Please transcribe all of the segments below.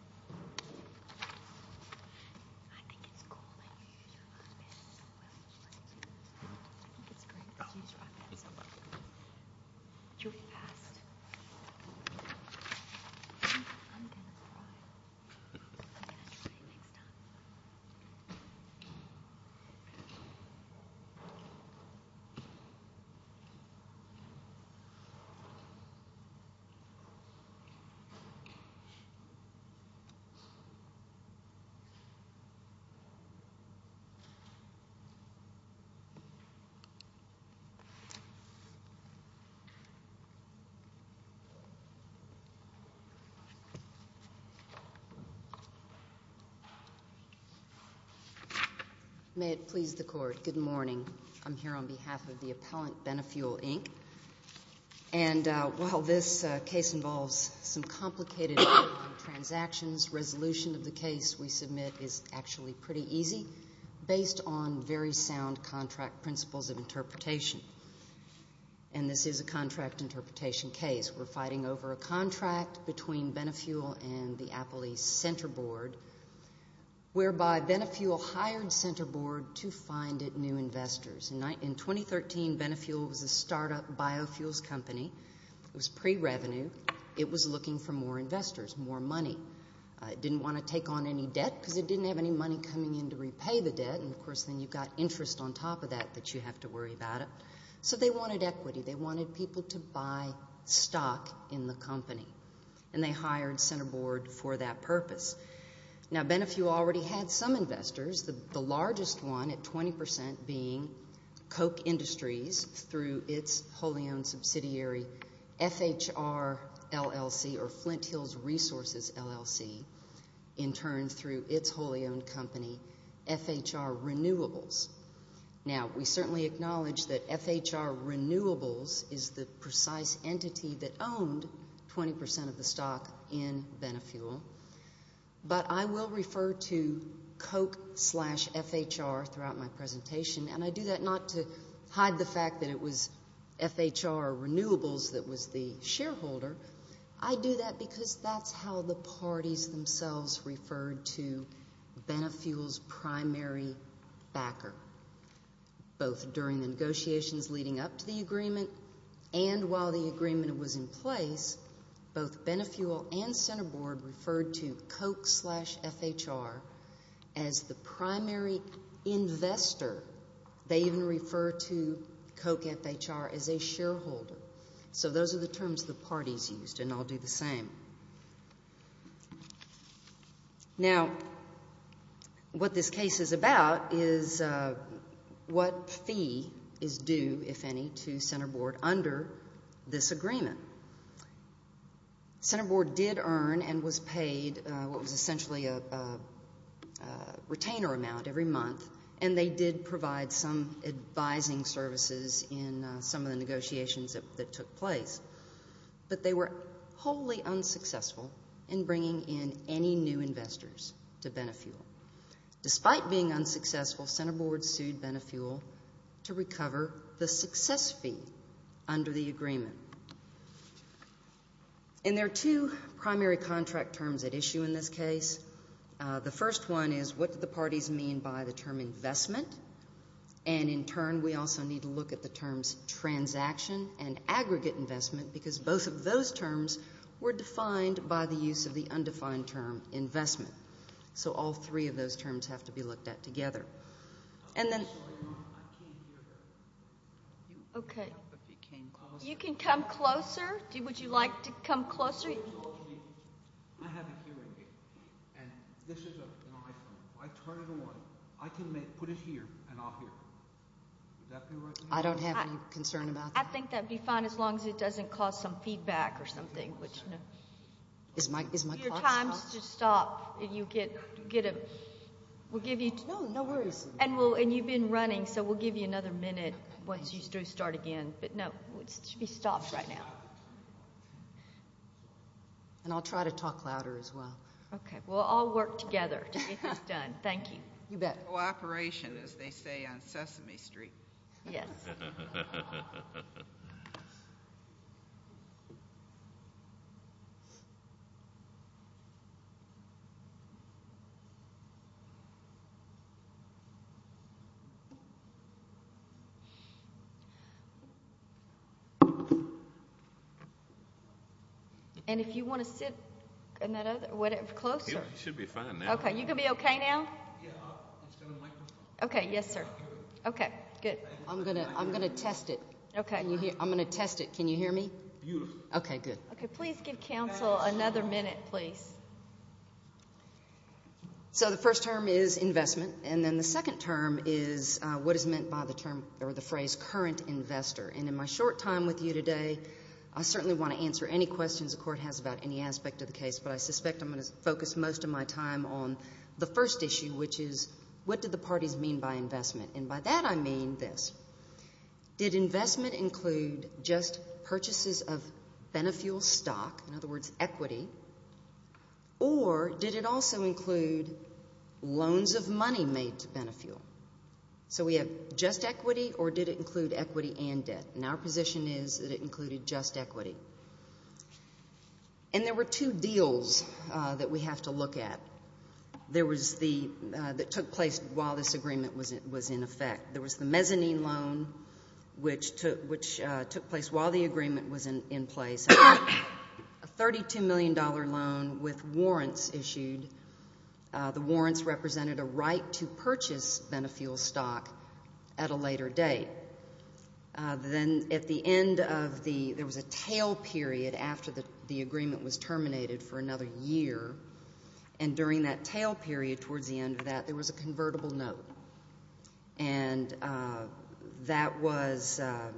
I think it's cool that you use your iPad so well. I think it's great that you use your iPad so well. You'll be fast. I'm going to cry. I'm going to try and make it up. May it please the Court, good morning. I'm here on behalf of the appellant Benefuel, Inc. And while this case involves some complicated transactions, resolution of the case we submit is actually pretty easy, based on very sound contract principles of interpretation. And this is a contract interpretation case. We're fighting over a contract between Benefuel and the Apple East Center Board, whereby Benefuel hired Center Board to find it new investors. In 2013, Benefuel was a startup biofuels company. It was pre-revenue. It was looking for more investors, more money. It didn't want to take on any debt because it didn't have any money coming in to repay the debt. And, of course, then you've got interest on top of that that you have to worry about it. So they wanted equity. They wanted people to buy stock in the company. And they hired Center Board for that purpose. Now, Benefuel already had some investors. The largest one at 20% being Koch Industries through its wholly-owned subsidiary FHR LLC or Flint Hills Resources LLC, in turn through its wholly-owned company FHR Renewables. Now, we certainly acknowledge that FHR Renewables is the precise entity that owned 20% of the stock in Benefuel. But I will refer to Koch slash FHR throughout my presentation. And I do that not to hide the fact that it was FHR Renewables that was the shareholder. I do that because that's how the parties themselves referred to Benefuel's primary backer, both during the negotiations leading up to the agreement and while the agreement was in place, both Benefuel and Center Board referred to Koch slash FHR as the primary investor. They even referred to Koch FHR as a shareholder. So those are the terms the parties used, and I'll do the same. Now, what this case is about is what fee is due, if any, to Center Board under this agreement. Center Board did earn and was paid what was essentially a retainer amount every month, and they did provide some advising services in some of the negotiations that took place. But they were wholly unsuccessful in bringing in any new investors to Benefuel. Despite being unsuccessful, Center Board sued Benefuel to recover the success fee under the agreement. And there are two primary contract terms at issue in this case. The first one is what do the parties mean by the term investment, and in turn we also need to look at the terms transaction and aggregate investment because both of those terms were defined by the use of the undefined term investment. So all three of those terms have to be looked at together. And then— I'm sorry, I can't hear that. Okay. It became closer. You can come closer. Would you like to come closer? I have a hearing aid, and this is an iPhone. If I turn it on, I can put it here, and I'll hear. Would that be all right? I don't have any concern about that. I think that would be fine as long as it doesn't cause some feedback or something. Is my clock stopped? If your time is to stop, we'll give you— No, no worries. And you've been running, so we'll give you another minute once you start again. But no, it should be stopped right now. And I'll try to talk louder as well. Okay. We'll all work together to get this done. Thank you. You bet. Cooperation, as they say on Sesame Street. Yes. And if you want to sit closer. You should be fine now. Okay. You're going to be okay now? Okay. Yes, sir. Okay. Good. I'm going to test it. Okay. I'm going to test it. Can you hear me? Yes. Okay. Good. Okay. Please give counsel another minute, please. So the first term is investment, and then the second term is what is meant by the term or the phrase current investor. And in my short time with you today, I certainly want to answer any questions the Court has about any aspect of the case, but I suspect I'm going to focus most of my time on the first issue, which is what do the parties mean by investment? And by that I mean this. Did investment include just purchases of Benefuel stock, in other words, equity, or did it also include loans of money made to Benefuel? So we have just equity, or did it include equity and debt? And our position is that it included just equity. And there were two deals that we have to look at that took place while this agreement was in effect. There was the mezzanine loan, which took place while the agreement was in place. A $32 million loan with warrants issued. The warrants represented a right to purchase Benefuel stock at a later date. Then at the end of the ‑‑ there was a tail period after the agreement was terminated for another year, and during that tail period towards the end of that, there was a convertible note. And that was ‑‑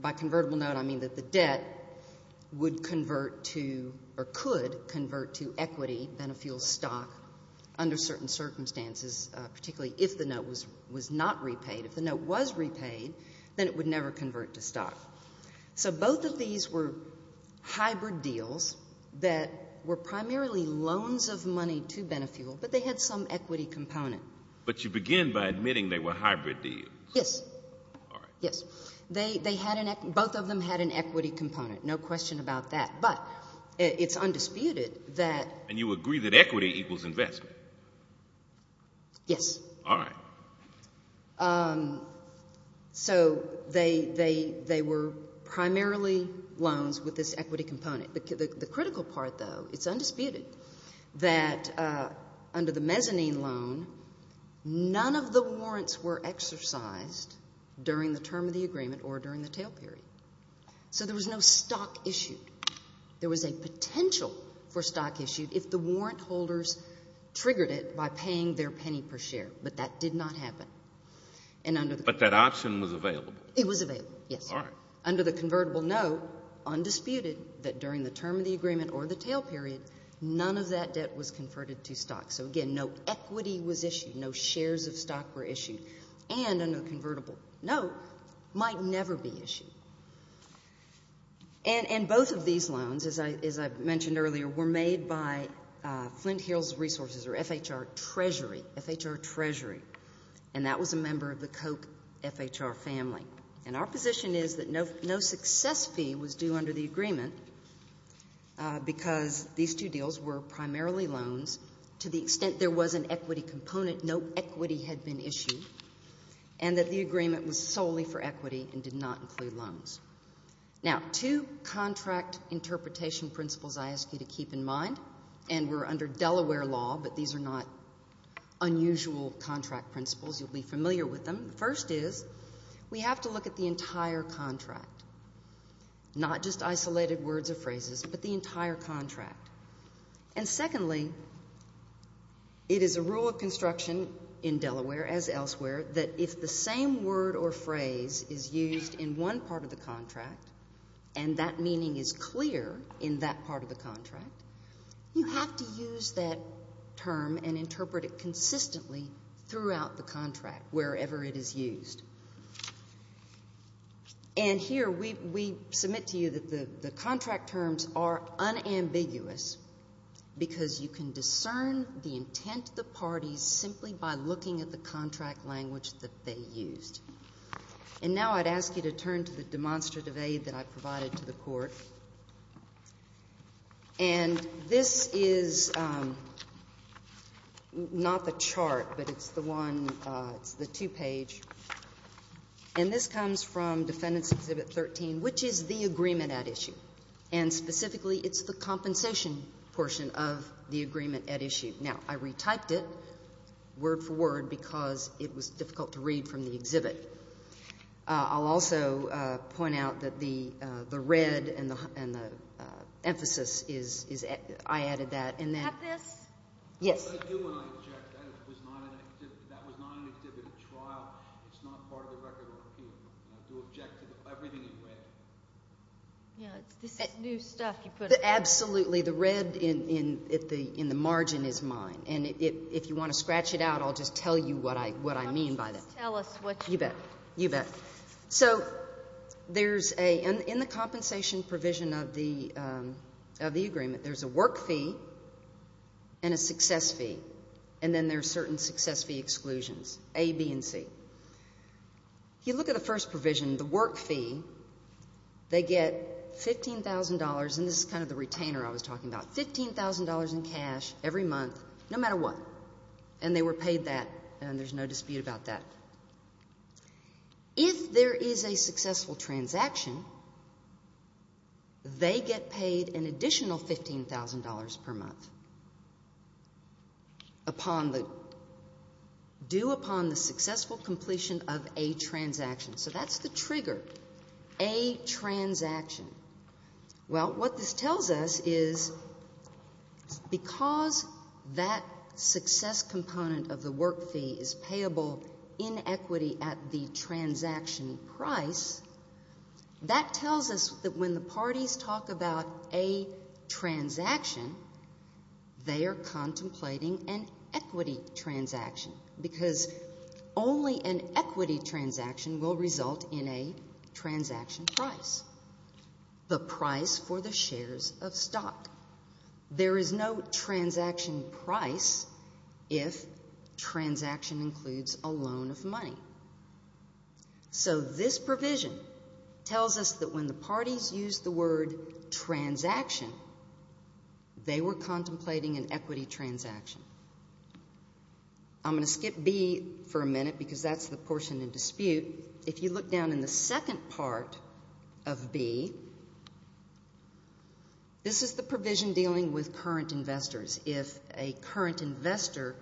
by convertible note, I mean that the debt would convert to or could convert to equity, Benefuel stock, under certain circumstances, particularly if the note was not repaid. If the note was repaid, then it would never convert to stock. So both of these were hybrid deals that were primarily loans of money to Benefuel, but they had some equity component. But you begin by admitting they were hybrid deals. Yes. All right. Yes. They had an ‑‑ both of them had an equity component, no question about that. But it's undisputed that ‑‑ And you agree that equity equals investment? Yes. All right. So they were primarily loans with this equity component. The critical part, though, it's undisputed that under the mezzanine loan, none of the warrants were exercised during the term of the agreement or during the tail period. So there was no stock issued. There was a potential for stock issued if the warrant holders triggered it by paying their But that option was available. It was available, yes. All right. Under the convertible note, undisputed, that during the term of the agreement or the tail period, none of that debt was converted to stock. So, again, no equity was issued. No shares of stock were issued. And a convertible note might never be issued. And both of these loans, as I mentioned earlier, were made by Flint Hills Resources or FHR And that was a member of the Koch FHR family. And our position is that no success fee was due under the agreement because these two deals were primarily loans to the extent there was an equity component. No equity had been issued. And that the agreement was solely for equity and did not include loans. Now, two contract interpretation principles I ask you to keep in mind, and we're under You'll be familiar with them. First is, we have to look at the entire contract. Not just isolated words or phrases, but the entire contract. And secondly, it is a rule of construction in Delaware, as elsewhere, that if the same word or phrase is used in one part of the contract and that meaning is clear in that part of the contract, you have to use that term and interpret it consistently throughout the contract, wherever it is used. And here, we submit to you that the contract terms are unambiguous because you can discern the intent of the parties simply by looking at the contract language that they used. And now I'd ask you to turn to the demonstrative aid that I provided to the court. And this is not the chart, but it's the one, it's the two-page. And this comes from Defendant's Exhibit 13, which is the agreement at issue. And specifically, it's the compensation portion of the agreement at issue. Now, I retyped it word for word because it was difficult to read from the exhibit. I'll also point out that the red and the emphasis is, I added that. Have this? Yes. I do want to object. That was not an exhibit at trial. It's not part of the record of appeal. And I do object to everything in red. Yeah, this is new stuff you put up. Absolutely. The red in the margin is mine. And if you want to scratch it out, I'll just tell you what I mean by that. Just tell us what you mean. You bet. You bet. So there's a, in the compensation provision of the agreement, there's a work fee and a success fee. And then there's certain success fee exclusions, A, B, and C. If you look at the first provision, the work fee, they get $15,000, and this is kind of the retainer I was talking about, $15,000 in cash every month, no matter what. And they were paid that, and there's no dispute about that. If there is a successful transaction, they get paid an additional $15,000 per month upon the, due upon the successful completion of a transaction. So that's the trigger, a transaction. Well, what this tells us is because that success component of the work fee is payable in equity at the transaction price, that tells us that when the parties talk about a transaction, they are contemplating an equity transaction because only an equity transaction will result in a transaction price, the price for the shares of stock. There is no transaction price if transaction includes a loan of money. So this provision tells us that when the parties use the word transaction, they were contemplating an equity transaction. I'm going to skip B for a minute because that's the portion in dispute. If you look down in the second part of B, this is the provision dealing with current investors. If a current investor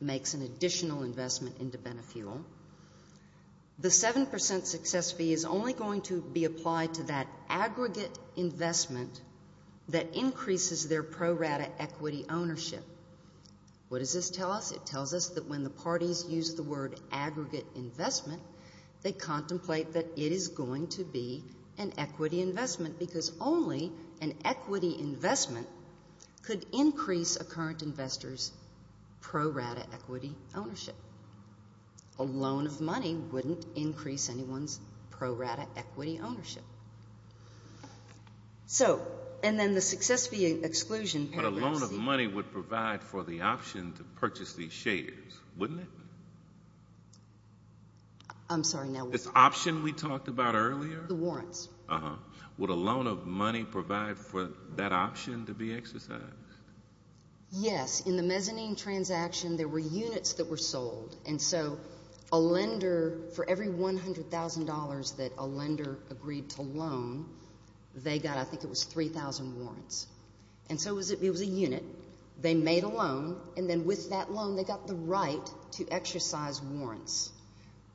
makes an additional investment into Benefuel, the 7% success fee is only going to be applied to that aggregate investment that increases their pro rata equity ownership. What does this tell us? It tells us that when the parties use the word aggregate investment, they contemplate that it is going to be an equity investment because only an equity investment could increase a current investor's pro rata equity ownership. A loan of money wouldn't increase anyone's pro rata equity ownership. And then the success fee exclusion paragraph C. But a loan of money would provide for the option to purchase these shares, wouldn't it? I'm sorry, now what? This option we talked about earlier? The warrants. Would a loan of money provide for that option to be exercised? Yes. In the mezzanine transaction, there were units that were sold. And so a lender, for every $100,000 that a lender agreed to loan, they got I think it was 3,000 warrants. And so it was a unit. They made a loan, and then with that loan they got the right to exercise warrants.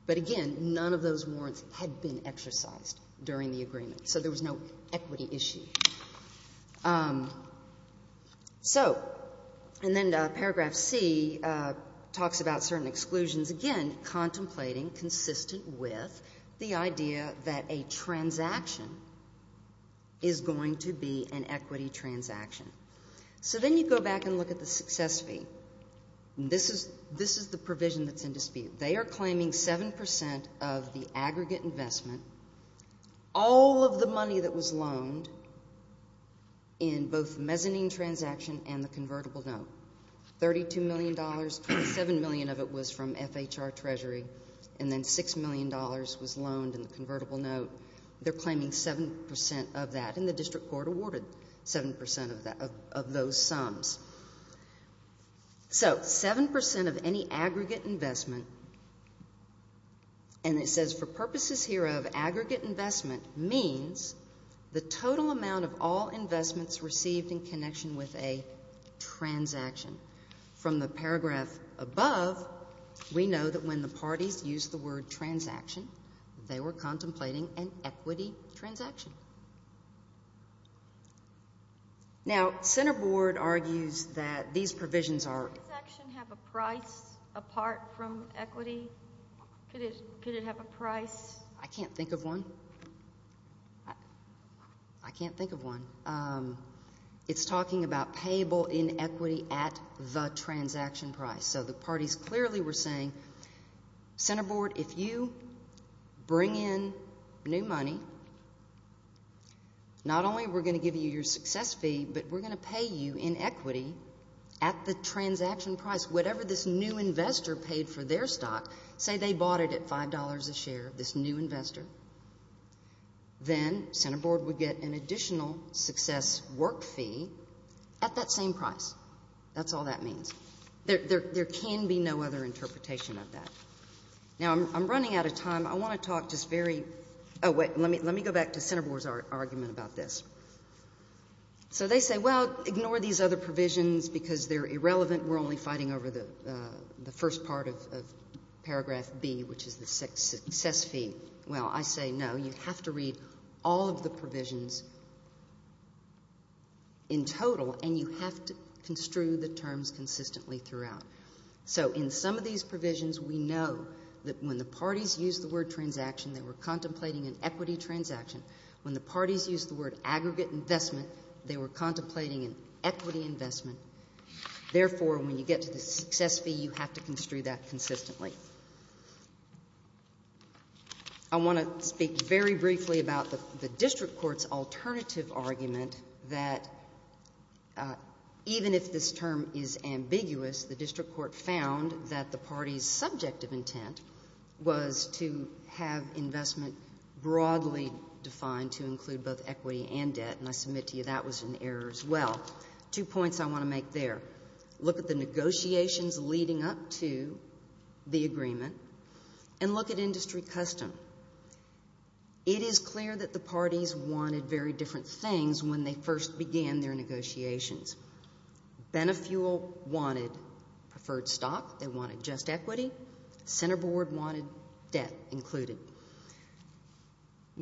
But, again, none of those warrants had been exercised during the agreement, so there was no equity issue. So, and then paragraph C talks about certain exclusions. Again, contemplating consistent with the idea that a transaction is going to be an equity transaction. So then you go back and look at the success fee. This is the provision that's in dispute. They are claiming 7% of the aggregate investment, all of the money that was loaned in both mezzanine transaction and the convertible note. $32 million, $27 million of it was from FHR Treasury, and then $6 million was loaned in the convertible note. They're claiming 7% of that, and the district court awarded 7% of those sums. So 7% of any aggregate investment, and it says for purposes here of aggregate investment, means the total amount of all investments received in connection with a transaction. From the paragraph above, we know that when the parties used the word transaction, they were contemplating an equity transaction. Now, center board argues that these provisions are. Does a transaction have a price apart from equity? Could it have a price? I can't think of one. I can't think of one. It's talking about payable inequity at the transaction price. So the parties clearly were saying, center board, if you bring in new money, not only we're going to give you your success fee, but we're going to pay you in equity at the transaction price, whatever this new investor paid for their stock. Say they bought it at $5 a share, this new investor. Then center board would get an additional success work fee at that same price. That's all that means. There can be no other interpretation of that. Now, I'm running out of time. I want to talk just very, oh, wait, let me go back to center board's argument about this. So they say, well, ignore these other provisions because they're irrelevant. We're only fighting over the first part of paragraph B, which is the success fee. Well, I say no. You have to read all of the provisions in total, and you have to construe the terms consistently throughout. So in some of these provisions, we know that when the parties used the word transaction, they were contemplating an equity transaction. When the parties used the word aggregate investment, they were contemplating an equity investment. Therefore, when you get to the success fee, you have to construe that consistently. I want to speak very briefly about the district court's alternative argument that even if this term is ambiguous, the district court found that the party's subjective intent was to have investment broadly defined to include both equity and debt, and I submit to you that was an error as well. Two points I want to make there. Look at the negotiations leading up to the agreement, and look at industry custom. It is clear that the parties wanted very different things when they first began their negotiations. Benefuel wanted preferred stock. They wanted just equity. Center board wanted debt included.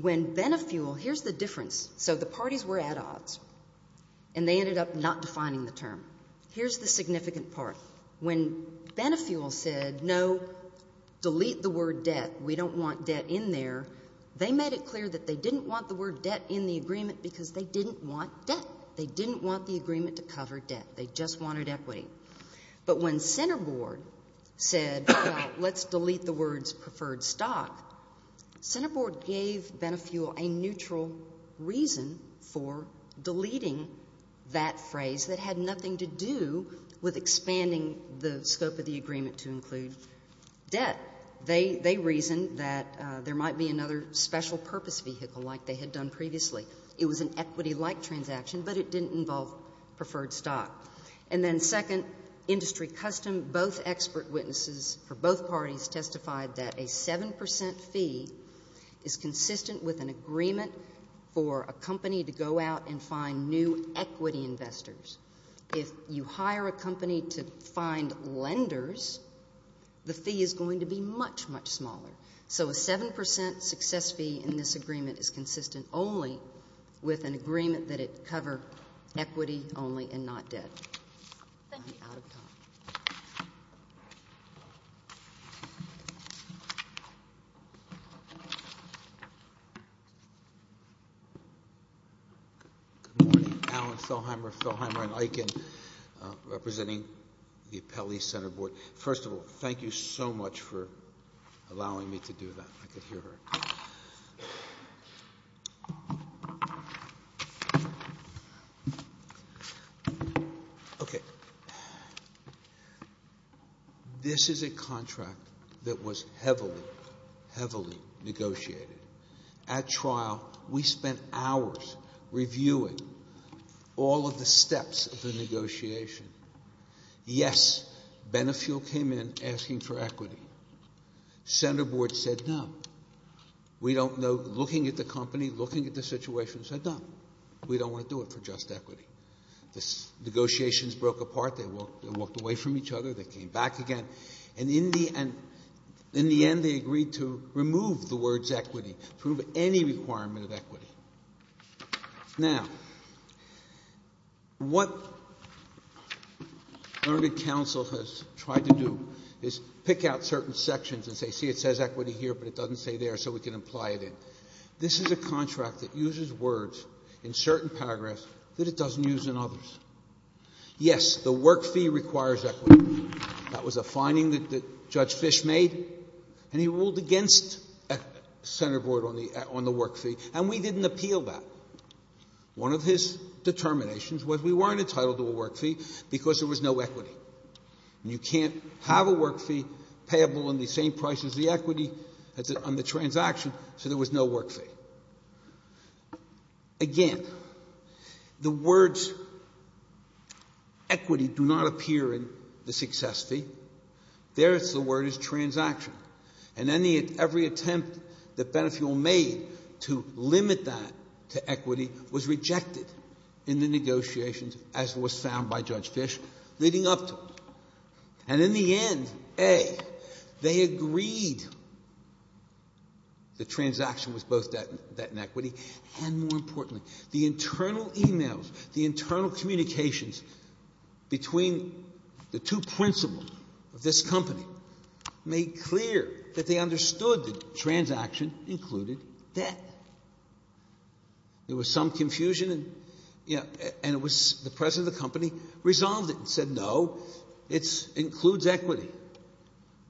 When Benefuel, here's the difference. So the parties were at odds, and they ended up not defining the term. Here's the significant part. When Benefuel said, no, delete the word debt, we don't want debt in there, they made it clear that they didn't want the word debt in the agreement because they didn't want debt. They didn't want the agreement to cover debt. They just wanted equity. But when center board said, let's delete the words preferred stock, center board gave Benefuel a neutral reason for deleting that phrase that had nothing to do with expanding the scope of the agreement to include debt. They reasoned that there might be another special purpose vehicle like they had done previously. It was an equity-like transaction, but it didn't involve preferred stock. And then second, industry custom, both expert witnesses for both parties testified that a 7% fee is consistent with an agreement for a company to go out and find new equity investors. If you hire a company to find lenders, the fee is going to be much, much smaller. So a 7% success fee in this agreement is consistent only with an agreement that it cover equity only and not debt. I'm out of time. Good morning. Alan Fellheimer, Fellheimer & Eichen, representing the Appellee Center Board. First of all, thank you so much for allowing me to do that. I could hear her. Okay. This is a contract that was heavily, heavily negotiated. At trial, we spent hours reviewing all of the steps of the negotiation. Yes, Benefuel came in asking for equity. Center Board said no. We don't know, looking at the company, looking at the situation, said no. We don't want to do it for just equity. The negotiations broke apart. They walked away from each other. They came back again. And in the end, they agreed to remove the words equity, prove any requirement of equity. Now, what Learned Counsel has tried to do is pick out certain sections and say, see, it says equity here, but it doesn't say there, so we can imply it in. This is a contract that uses words in certain paragraphs that it doesn't use in others. Yes, the work fee requires equity. That was a finding that Judge Fish made, and he ruled against Center Board on the work fee. And we didn't appeal that. One of his determinations was we weren't entitled to a work fee because there was no equity. And you can't have a work fee payable in the same price as the equity on the transaction, so there was no work fee. Again, the words equity do not appear in the success fee. There, the word is transaction. And every attempt that Benefuel made to limit that to equity was rejected in the negotiations, as was found by Judge Fish, leading up to it. And in the end, A, they agreed the transaction was both debt and equity, and more importantly, the internal e-mails, the internal communications between the two principals of this company made clear that they understood the transaction included debt. There was some confusion, and the president of the company resolved it and said, no, it includes equity.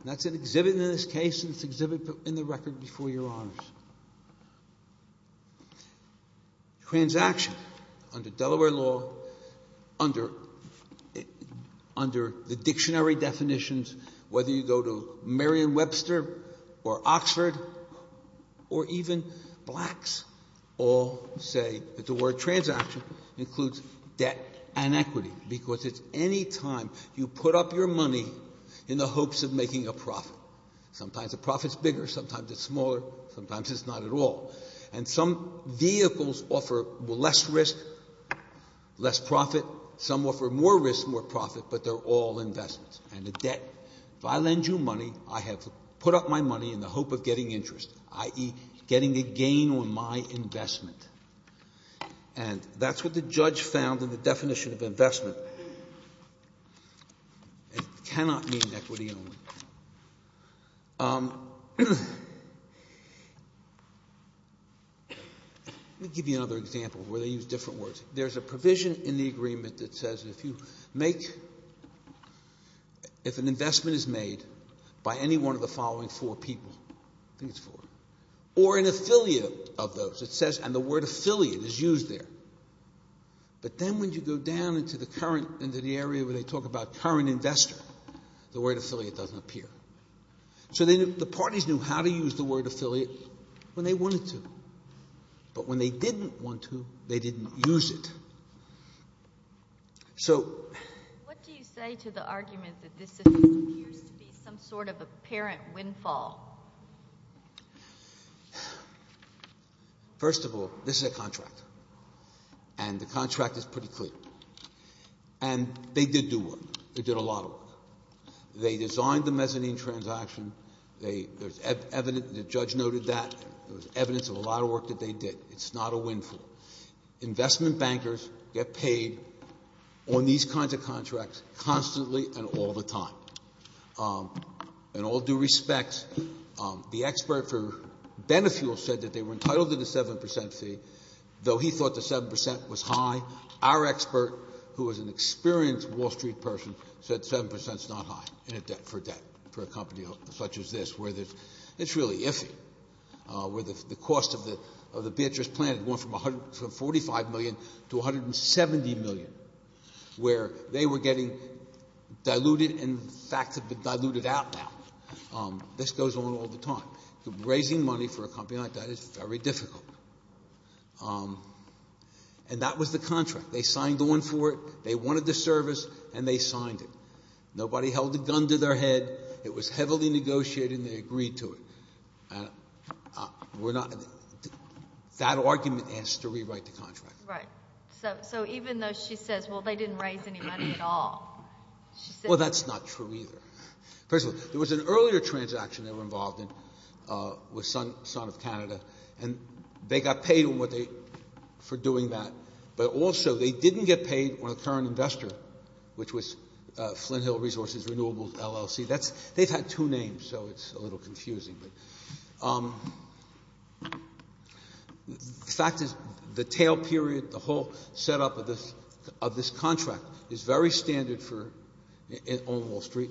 And that's an exhibit in this case, and it's an exhibit in the record before Your Honors. Transaction, under Delaware law, under the dictionary definitions, whether you go to Merriam-Webster or Oxford or even Blacks, all say that the word transaction includes debt and equity because it's any time you put up your money in the hopes of making a profit. Sometimes a profit's bigger, sometimes it's smaller, sometimes it's not at all. And some vehicles offer less risk, less profit. Some offer more risk, more profit, but they're all investments. And the debt, if I lend you money, I have put up my money in the hope of getting interest, i.e., getting a gain on my investment. And that's what the judge found in the definition of investment. It cannot mean equity only. Let me give you another example where they use different words. There's a provision in the agreement that says if you make, if an investment is made by any one of the following four people, I think it's four, or an affiliate of those, it says, and the word affiliate is used there. But then when you go down into the area where they talk about current investor, the word affiliate doesn't appear. So the parties knew how to use the word affiliate when they wanted to. But when they didn't want to, they didn't use it. What do you say to the argument that this appears to be some sort of apparent windfall? First of all, this is a contract, and the contract is pretty clear. And they did do work. They did a lot of work. They designed the mezzanine transaction. There's evidence, the judge noted that. There's evidence of a lot of work that they did. It's not a windfall. Investment bankers get paid on these kinds of contracts constantly and all the time. In all due respect, the expert for Benefuel said that they were entitled to the 7% fee, though he thought the 7% was high. Our expert, who is an experienced Wall Street person, said 7% is not high for a company such as this, where it's really iffy, where the cost of the Beatrice plant went from $45 million to $170 million, where they were getting diluted, and the facts have been diluted out now. This goes on all the time. Raising money for a company like that is very difficult. And that was the contract. They signed on for it. They wanted the service, and they signed it. Nobody held a gun to their head. It was heavily negotiated, and they agreed to it. That argument has to rewrite the contract. Right. So even though she says, well, they didn't raise any money at all. Well, that's not true either. First of all, there was an earlier transaction they were involved in with Sun of Canada, and they got paid for doing that, but also they didn't get paid on a current investor, which was Flinthill Resources Renewables, LLC. They've had two names, so it's a little confusing. The fact is the tail period, the whole setup of this contract is very standard on Wall Street,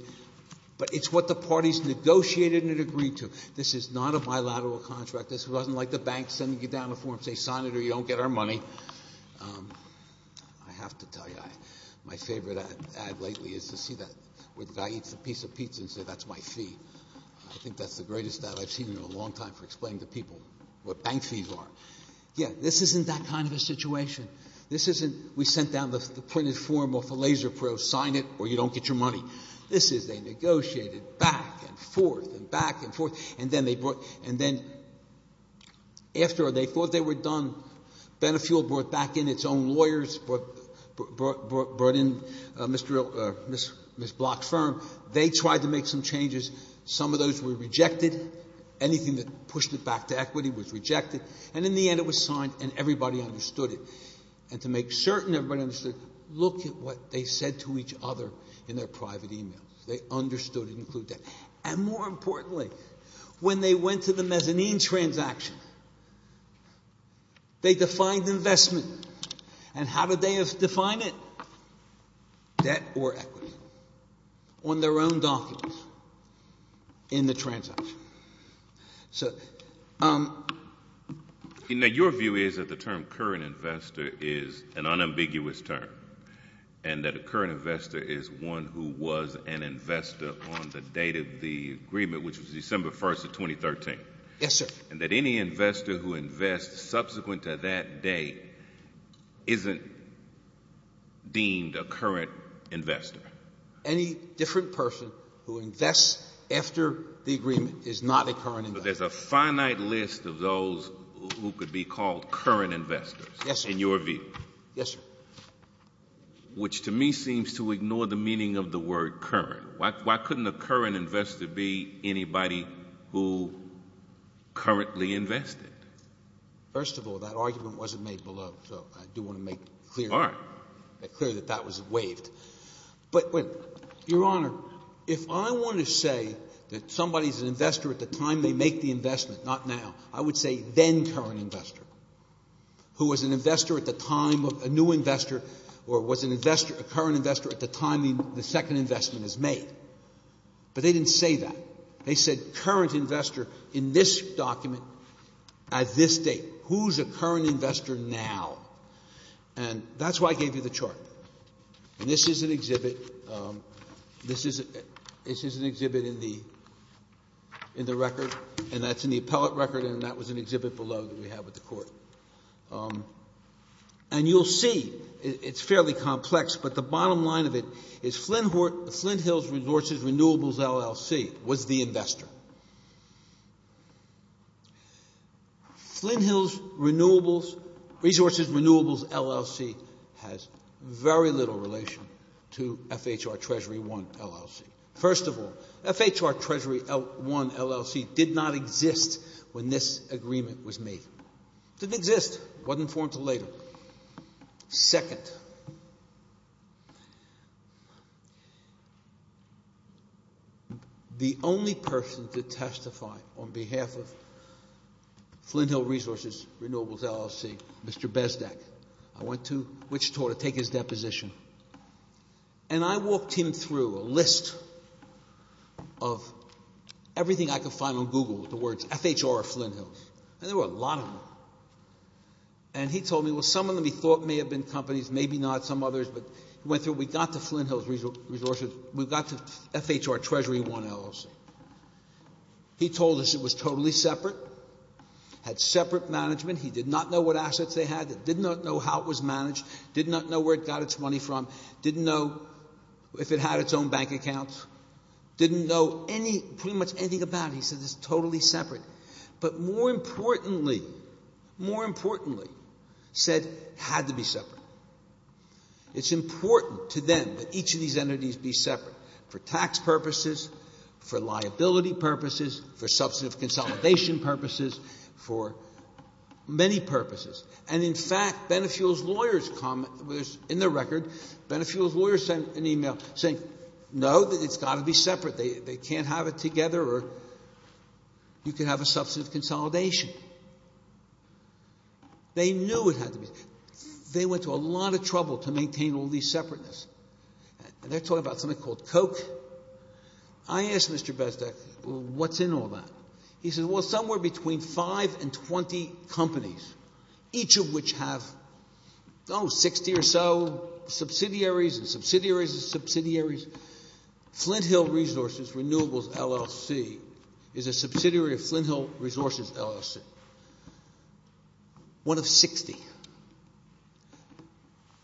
but it's what the parties negotiated and agreed to. This is not a bilateral contract. This wasn't like the bank sending you down a form saying sign it or you don't get our money. I have to tell you, my favorite ad lately is to see that where the guy eats a piece of pizza and says, that's my fee. I think that's the greatest ad I've seen in a long time for explaining to people what bank fees are. Yeah, this isn't that kind of a situation. This isn't we sent down the printed form off a LaserPro, sign it or you don't get your money. After they thought they were done, Benefuel brought back in its own lawyers, brought in Ms. Block's firm. They tried to make some changes. Some of those were rejected. Anything that pushed it back to equity was rejected. In the end, it was signed and everybody understood it. To make certain everybody understood, look at what they said to each other in their private emails. They understood and included that. More importantly, when they went to the mezzanine transaction, they defined investment. How did they define it? Debt or equity on their own documents in the transaction. Your view is that the term current investor is an unambiguous term. And that a current investor is one who was an investor on the date of the agreement, which was December 1st of 2013. Yes, sir. And that any investor who invests subsequent to that date isn't deemed a current investor. Any different person who invests after the agreement is not a current investor. But there's a finite list of those who could be called current investors. Yes, sir. In your view. Yes, sir. Which to me seems to ignore the meaning of the word current. Why couldn't a current investor be anybody who currently invested? First of all, that argument wasn't made below. So I do want to make clear that that was waived. But your honor, if I want to say that somebody's an investor at the time they make the investment, not now, I would say then current investor, who was an investor at the time of a new investor or was a current investor at the time the second investment is made. But they didn't say that. They said current investor in this document at this date. Who's a current investor now? And that's why I gave you the chart. And this is an exhibit. This is an exhibit in the record. And that's in the appellate record. And that was an exhibit below that we have with the court. And you'll see it's fairly complex. But the bottom line of it is Flinthills Resources Renewables LLC was the investor. Now, Flinthills Resources Renewables LLC has very little relation to FHR Treasury 1 LLC. First of all, FHR Treasury 1 LLC did not exist when this agreement was made. It didn't exist. It wasn't formed until later. Second, the only person to testify on behalf of Flinthills Resources Renewables LLC, Mr. Bezdek, I went to, which taught to take his deposition. And I walked him through a list of everything I could find on Google, the words FHR or Flinthills. And there were a lot of them. And he told me, well, some of them he thought may have been companies, maybe not some others. But he went through. We got to Flinthills Resources. We got to FHR Treasury 1 LLC. He told us it was totally separate. Had separate management. He did not know what assets they had. Did not know how it was managed. Did not know where it got its money from. Didn't know if it had its own bank accounts. Didn't know pretty much anything about it. He said it's totally separate. But more importantly, more importantly, said it had to be separate. It's important to them that each of these entities be separate. For tax purposes, for liability purposes, for substantive consolidation purposes, for many purposes. And in fact, Benefuel's lawyers comment, in their record, Benefuel's lawyers sent an email saying, no, it's got to be separate. They can't have it together or you can have a substantive consolidation. They knew it had to be. They went to a lot of trouble to maintain all these separateness. And they're talking about something called Coke. I asked Mr. Bezdek, well, what's in all that? He said, well, somewhere between 5 and 20 companies. Each of which have, oh, 60 or so subsidiaries and subsidiaries and subsidiaries. Flinthill Resources Renewables LLC is a subsidiary of Flinthill Resources LLC. One of 60.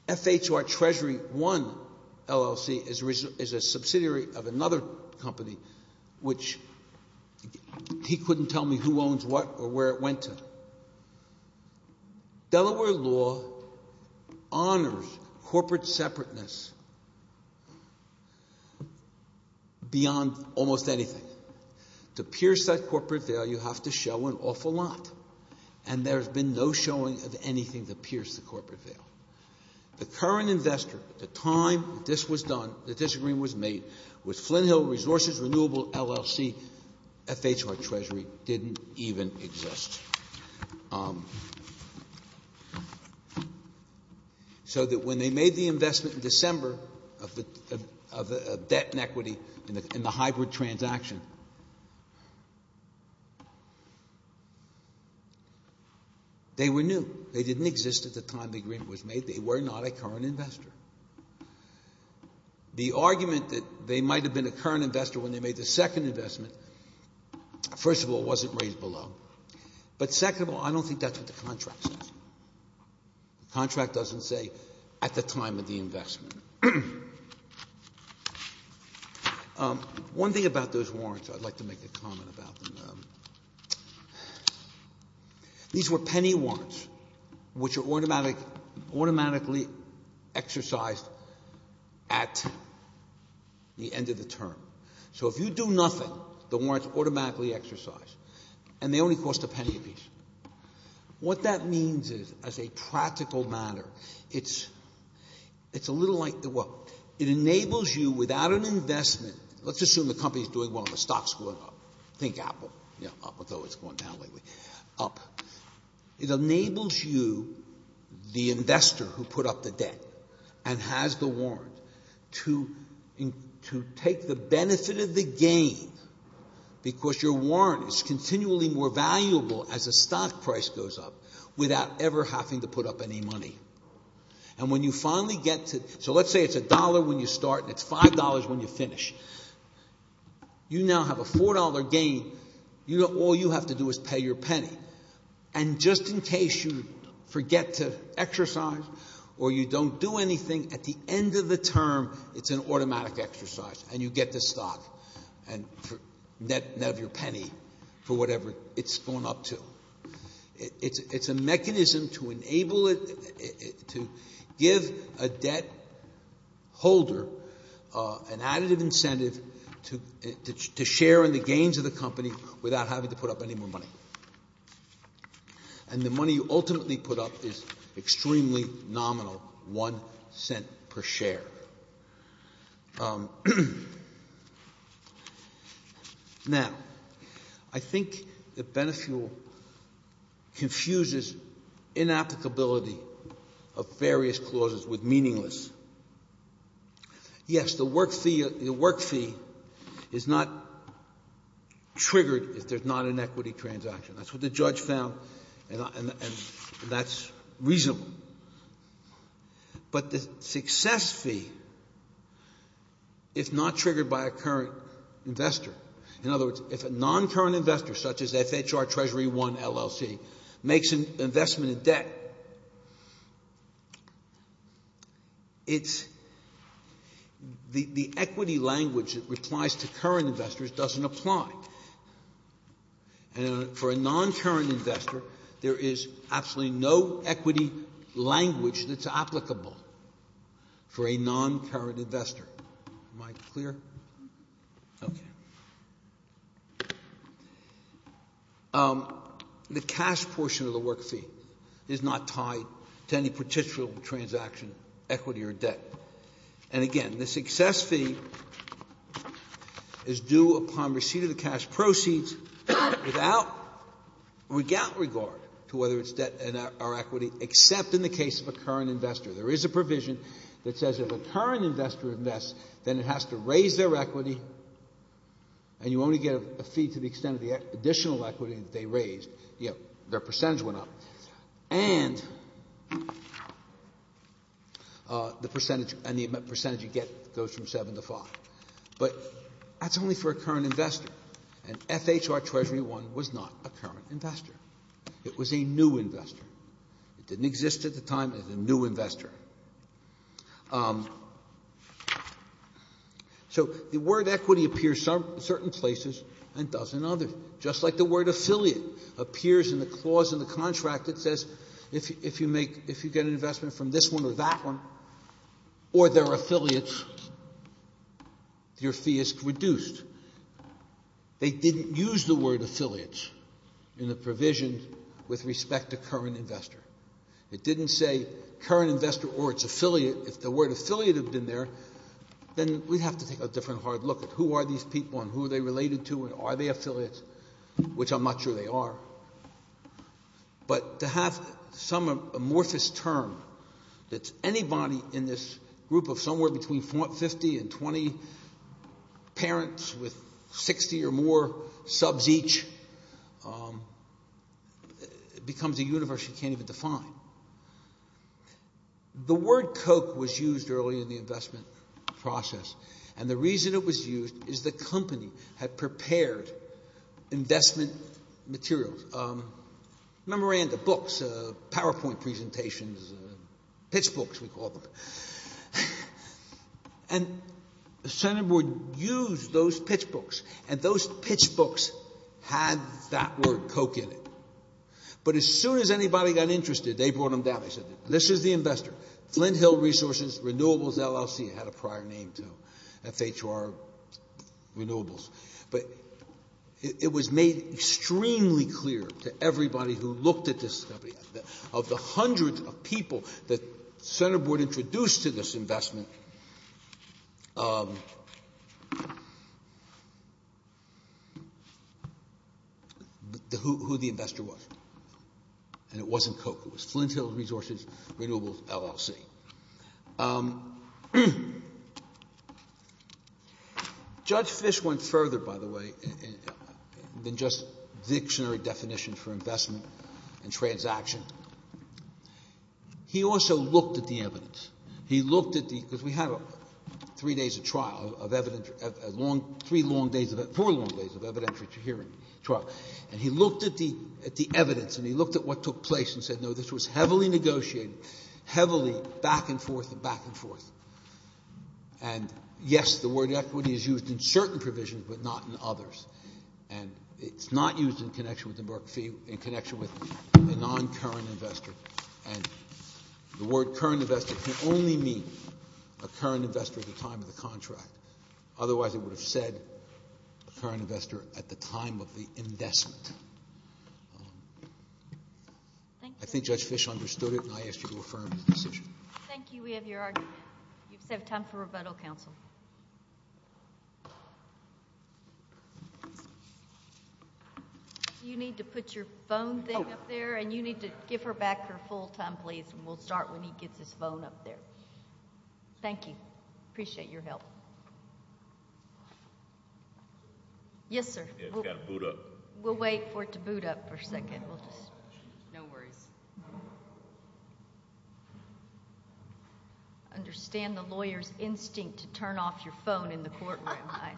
FHR Treasury One LLC is a subsidiary of another company which he couldn't tell me who owns what or where it went to. Delaware law honors corporate separateness beyond almost anything. To pierce that corporate veil, you have to show an awful lot. And there's been no showing of anything to pierce the corporate veil. The current investor at the time this was done, the disagreement was made, was Flinthill Resources Renewables LLC. FHR Treasury didn't even exist. So that when they made the investment in December of debt and equity in the hybrid transaction, they were new. They didn't exist at the time the agreement was made. They were not a current investor. The argument that they might have been a current investor when they made the second investment, first of all, wasn't raised below. But second of all, I don't think that's what the contract says. The contract doesn't say at the time of the investment. One thing about those warrants I'd like to make a comment about. These were penny warrants which are automatically exercised at the end of the term. So if you do nothing, the warrants automatically exercise. And they only cost a penny apiece. What that means is as a practical matter, it's a little like, well, it enables you without an investment. Let's assume the company is doing well and the stock's going up. Think Apple. Yeah, up, although it's going down lately. Up. It enables you, the investor who put up the debt and has the warrant, to take the benefit of the gain because your warrant is continually more valuable as the stock price goes up without ever having to put up any money. And when you finally get to, so let's say it's a dollar when you start and it's five dollars when you finish. You now have a four dollar gain. All you have to do is pay your penny. And just in case you forget to exercise or you don't do anything, at the end of the term it's an automatic exercise and you get the stock and net of your penny for whatever it's going up to. It's a mechanism to enable it, to give a debt holder an additive incentive to share in the gains of the company without having to put up any more money. And the money you ultimately put up is extremely nominal, one cent per share. Now, I think that Benefuel confuses inapplicability of various clauses with meaningless. Yes, the work fee is not triggered if there's not an equity transaction. That's what the judge found and that's reasonable. But the success fee is not triggered by a current investor. In other words, if a non-current investor such as FHR, Treasury One, LLC, makes an investment in debt, the equity language that replies to current investors doesn't apply. And for a non-current investor there is absolutely no equity language that's applicable for a non-current investor. Am I clear? Okay. The cash portion of the work fee is not tied to any particular transaction, equity or debt. And again, the success fee is due upon receipt of the cash proceeds without regard to whether it's debt or equity except in the case of a current investor. There is a provision that says if a current investor invests then it has to raise their equity and you only get a fee to the extent of the additional equity that they raised, their percentage went up, and the percentage you get goes from 7 to 5. But that's only for a current investor and FHR, Treasury One was not a current investor. It was a new investor. It didn't exist at the time as a new investor. So the word equity appears in certain places and doesn't in others. Just like the word affiliate appears in the clause in the contract that says if you get an investment from this one or that one or they're affiliates, your fee is reduced. They didn't use the word affiliates in the provision with respect to current investor. It didn't say current investor or its affiliate. If the word affiliate had been there, then we'd have to take a different hard look at who are these people and who are they related to and are they affiliates, which I'm not sure they are. But to have some amorphous term that's anybody in this group of somewhere between 50 and 20 parents with 60 or more subs each becomes a universe you can't even define. The word Coke was used early in the investment process, and the reason it was used is the company had prepared investment materials, memoranda, books, PowerPoint presentations, pitch books we call them. And the Senate would use those pitch books, and those pitch books had that word Coke in it. But as soon as anybody got interested, they brought them down. They said, this is the investor, Flint Hill Resources Renewables LLC. It had a prior name to FHR Renewables. But it was made extremely clear to everybody who looked at this company, of the hundreds of people that the Senate board introduced to this investment, who the investor was. And it wasn't Coke. It was Flint Hill Resources Renewables LLC. Judge Fish went further, by the way, than just dictionary definitions for investment and transaction. He also looked at the evidence. He looked at the, because we had three days of trial of evidence, three long days, four long days of evidentiary hearing trial. And he looked at the evidence, and he looked at what took place and said, no, this was heavily negotiated, heavily back and forth and back and forth. And yes, the word equity is used in certain provisions, but not in others. And it's not used in connection with the Berk fee, in connection with the non-current investor. And the word current investor can only mean a current investor at the time of the contract. Otherwise, it would have said current investor at the time of the investment. I think Judge Fish understood it, and I ask you to affirm the decision. Thank you. We have your argument. You just have time for rebuttal, counsel. You need to put your phone thing up there, and you need to give her back her full time, please, and we'll start when he gets his phone up there. Thank you. Appreciate your help. Yes, sir. It's got to boot up. We'll wait for it to boot up for a second. No worries. I understand the lawyer's instinct to turn off your phone in the courtroom.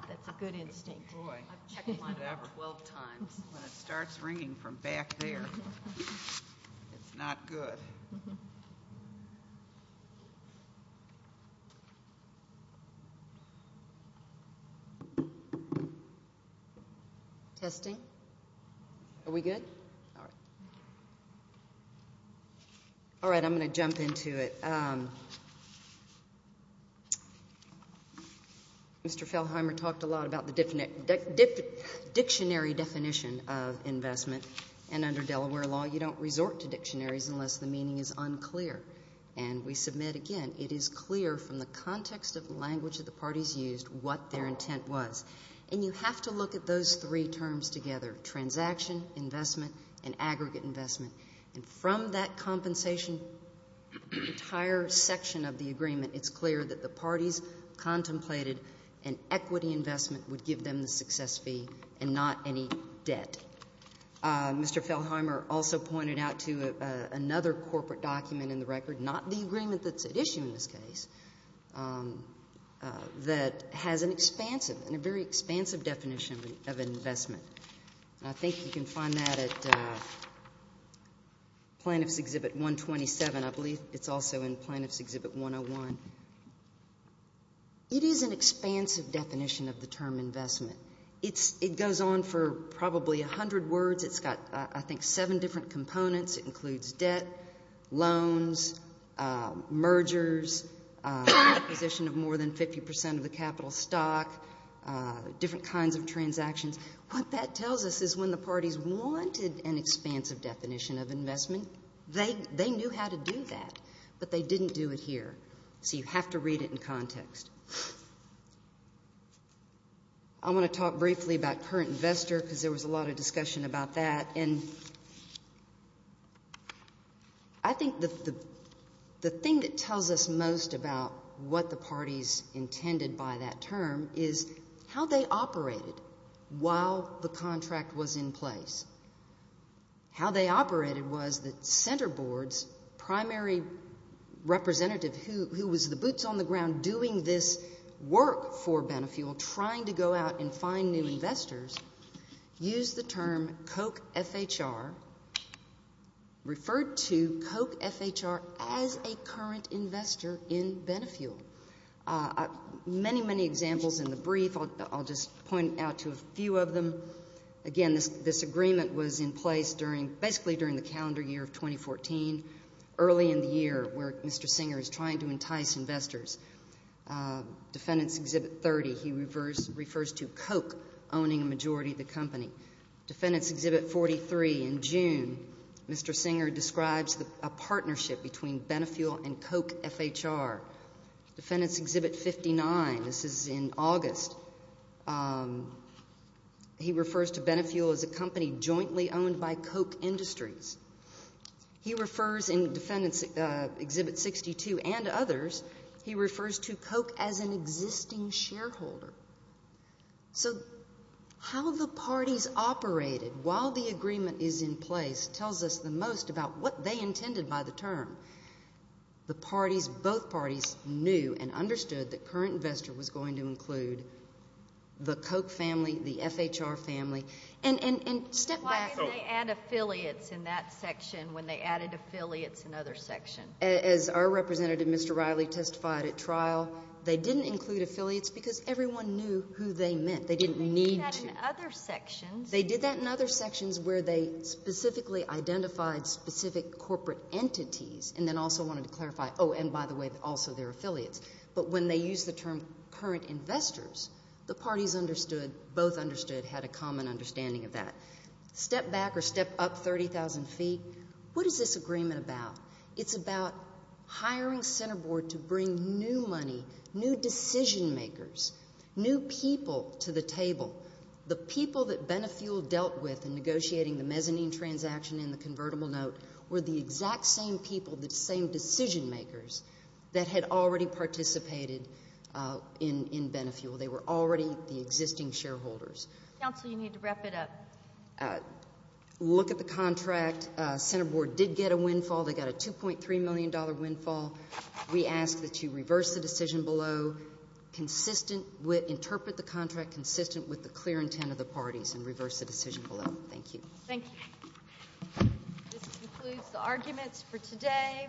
That's a good instinct. I've checked mine about 12 times. When it starts ringing from back there, it's not good. Testing. Are we good? All right, I'm going to jump into it. Mr. Feldheimer talked a lot about the dictionary definition of investment, and under Delaware law, you don't resort to dictionaries unless the meaning is unclear. And we submit again, it is clear from the context of the language that the parties used what their intent was. And you have to look at those three terms together, transaction, investment, and aggregate investment. And from that compensation, the entire section of the agreement, it's clear that the parties contemplated an equity investment would give them the success fee and not any debt. Mr. Feldheimer also pointed out to another corporate document in the record, not the agreement that's at issue in this case, that has an expansive and a very expansive definition of investment. And I think you can find that at Plaintiff's Exhibit 127. I believe it's also in Plaintiff's Exhibit 101. It is an expansive definition of the term investment. It goes on for probably a hundred words. It's got, I think, seven different components. It includes debt, loans, mergers, acquisition of more than 50% of the capital stock, different kinds of transactions. What that tells us is when the parties wanted an expansive definition of investment, they knew how to do that, but they didn't do it here. So you have to read it in context. I want to talk briefly about current investor because there was a lot of discussion about that. And I think the thing that tells us most about what the parties intended by that term is how they operated while the contract was in place. How they operated was that center boards, primary representative who was the boots on the ground doing this work for Benefuel, trying to go out and find new investors, used the term Koch FHR, referred to Koch FHR as a current investor in Benefuel. Many, many examples in the brief. I'll just point out to a few of them. Again, this agreement was in place during, basically during the calendar year of 2014, early in the year where Mr. Singer is trying to entice investors. Defendant's Exhibit 30, he refers to Koch owning a majority of the company. Defendant's Exhibit 43, in June, Mr. Singer describes a partnership between Benefuel and Koch FHR. Defendant's Exhibit 59, this is in August, he refers to Benefuel as a company jointly owned by Koch Industries. He refers, in Defendant's Exhibit 62 and others, he refers to Koch as an existing shareholder. So how the parties operated while the agreement is in place tells us the most about what they intended by the term. The parties, both parties, knew and understood that current investor was going to include the Koch family, the FHR family, and step back. Why didn't they add affiliates in that section when they added affiliates in other sections? As our representative, Mr. Riley, testified at trial, they didn't include affiliates because everyone knew who they meant. They didn't need to. They did that in other sections. They did that in other sections where they specifically identified specific corporate entities and then also wanted to clarify, oh, and by the way, also their affiliates. But when they used the term current investors, the parties understood, both understood, had a common understanding of that. Step back or step up 30,000 feet. What is this agreement about? It's about hiring center board to bring new money, new decision makers, new people to the table. The people that Benefuel dealt with in negotiating the mezzanine transaction and the convertible note were the exact same people, the same decision makers, that had already participated in Benefuel. They were already the existing shareholders. Counsel, you need to wrap it up. Look at the contract. Center board did get a windfall. They got a $2.3 million windfall. We ask that you reverse the decision below, interpret the contract consistent with the clear intent of the parties and reverse the decision below. Thank you. Thank you. This concludes the arguments for today.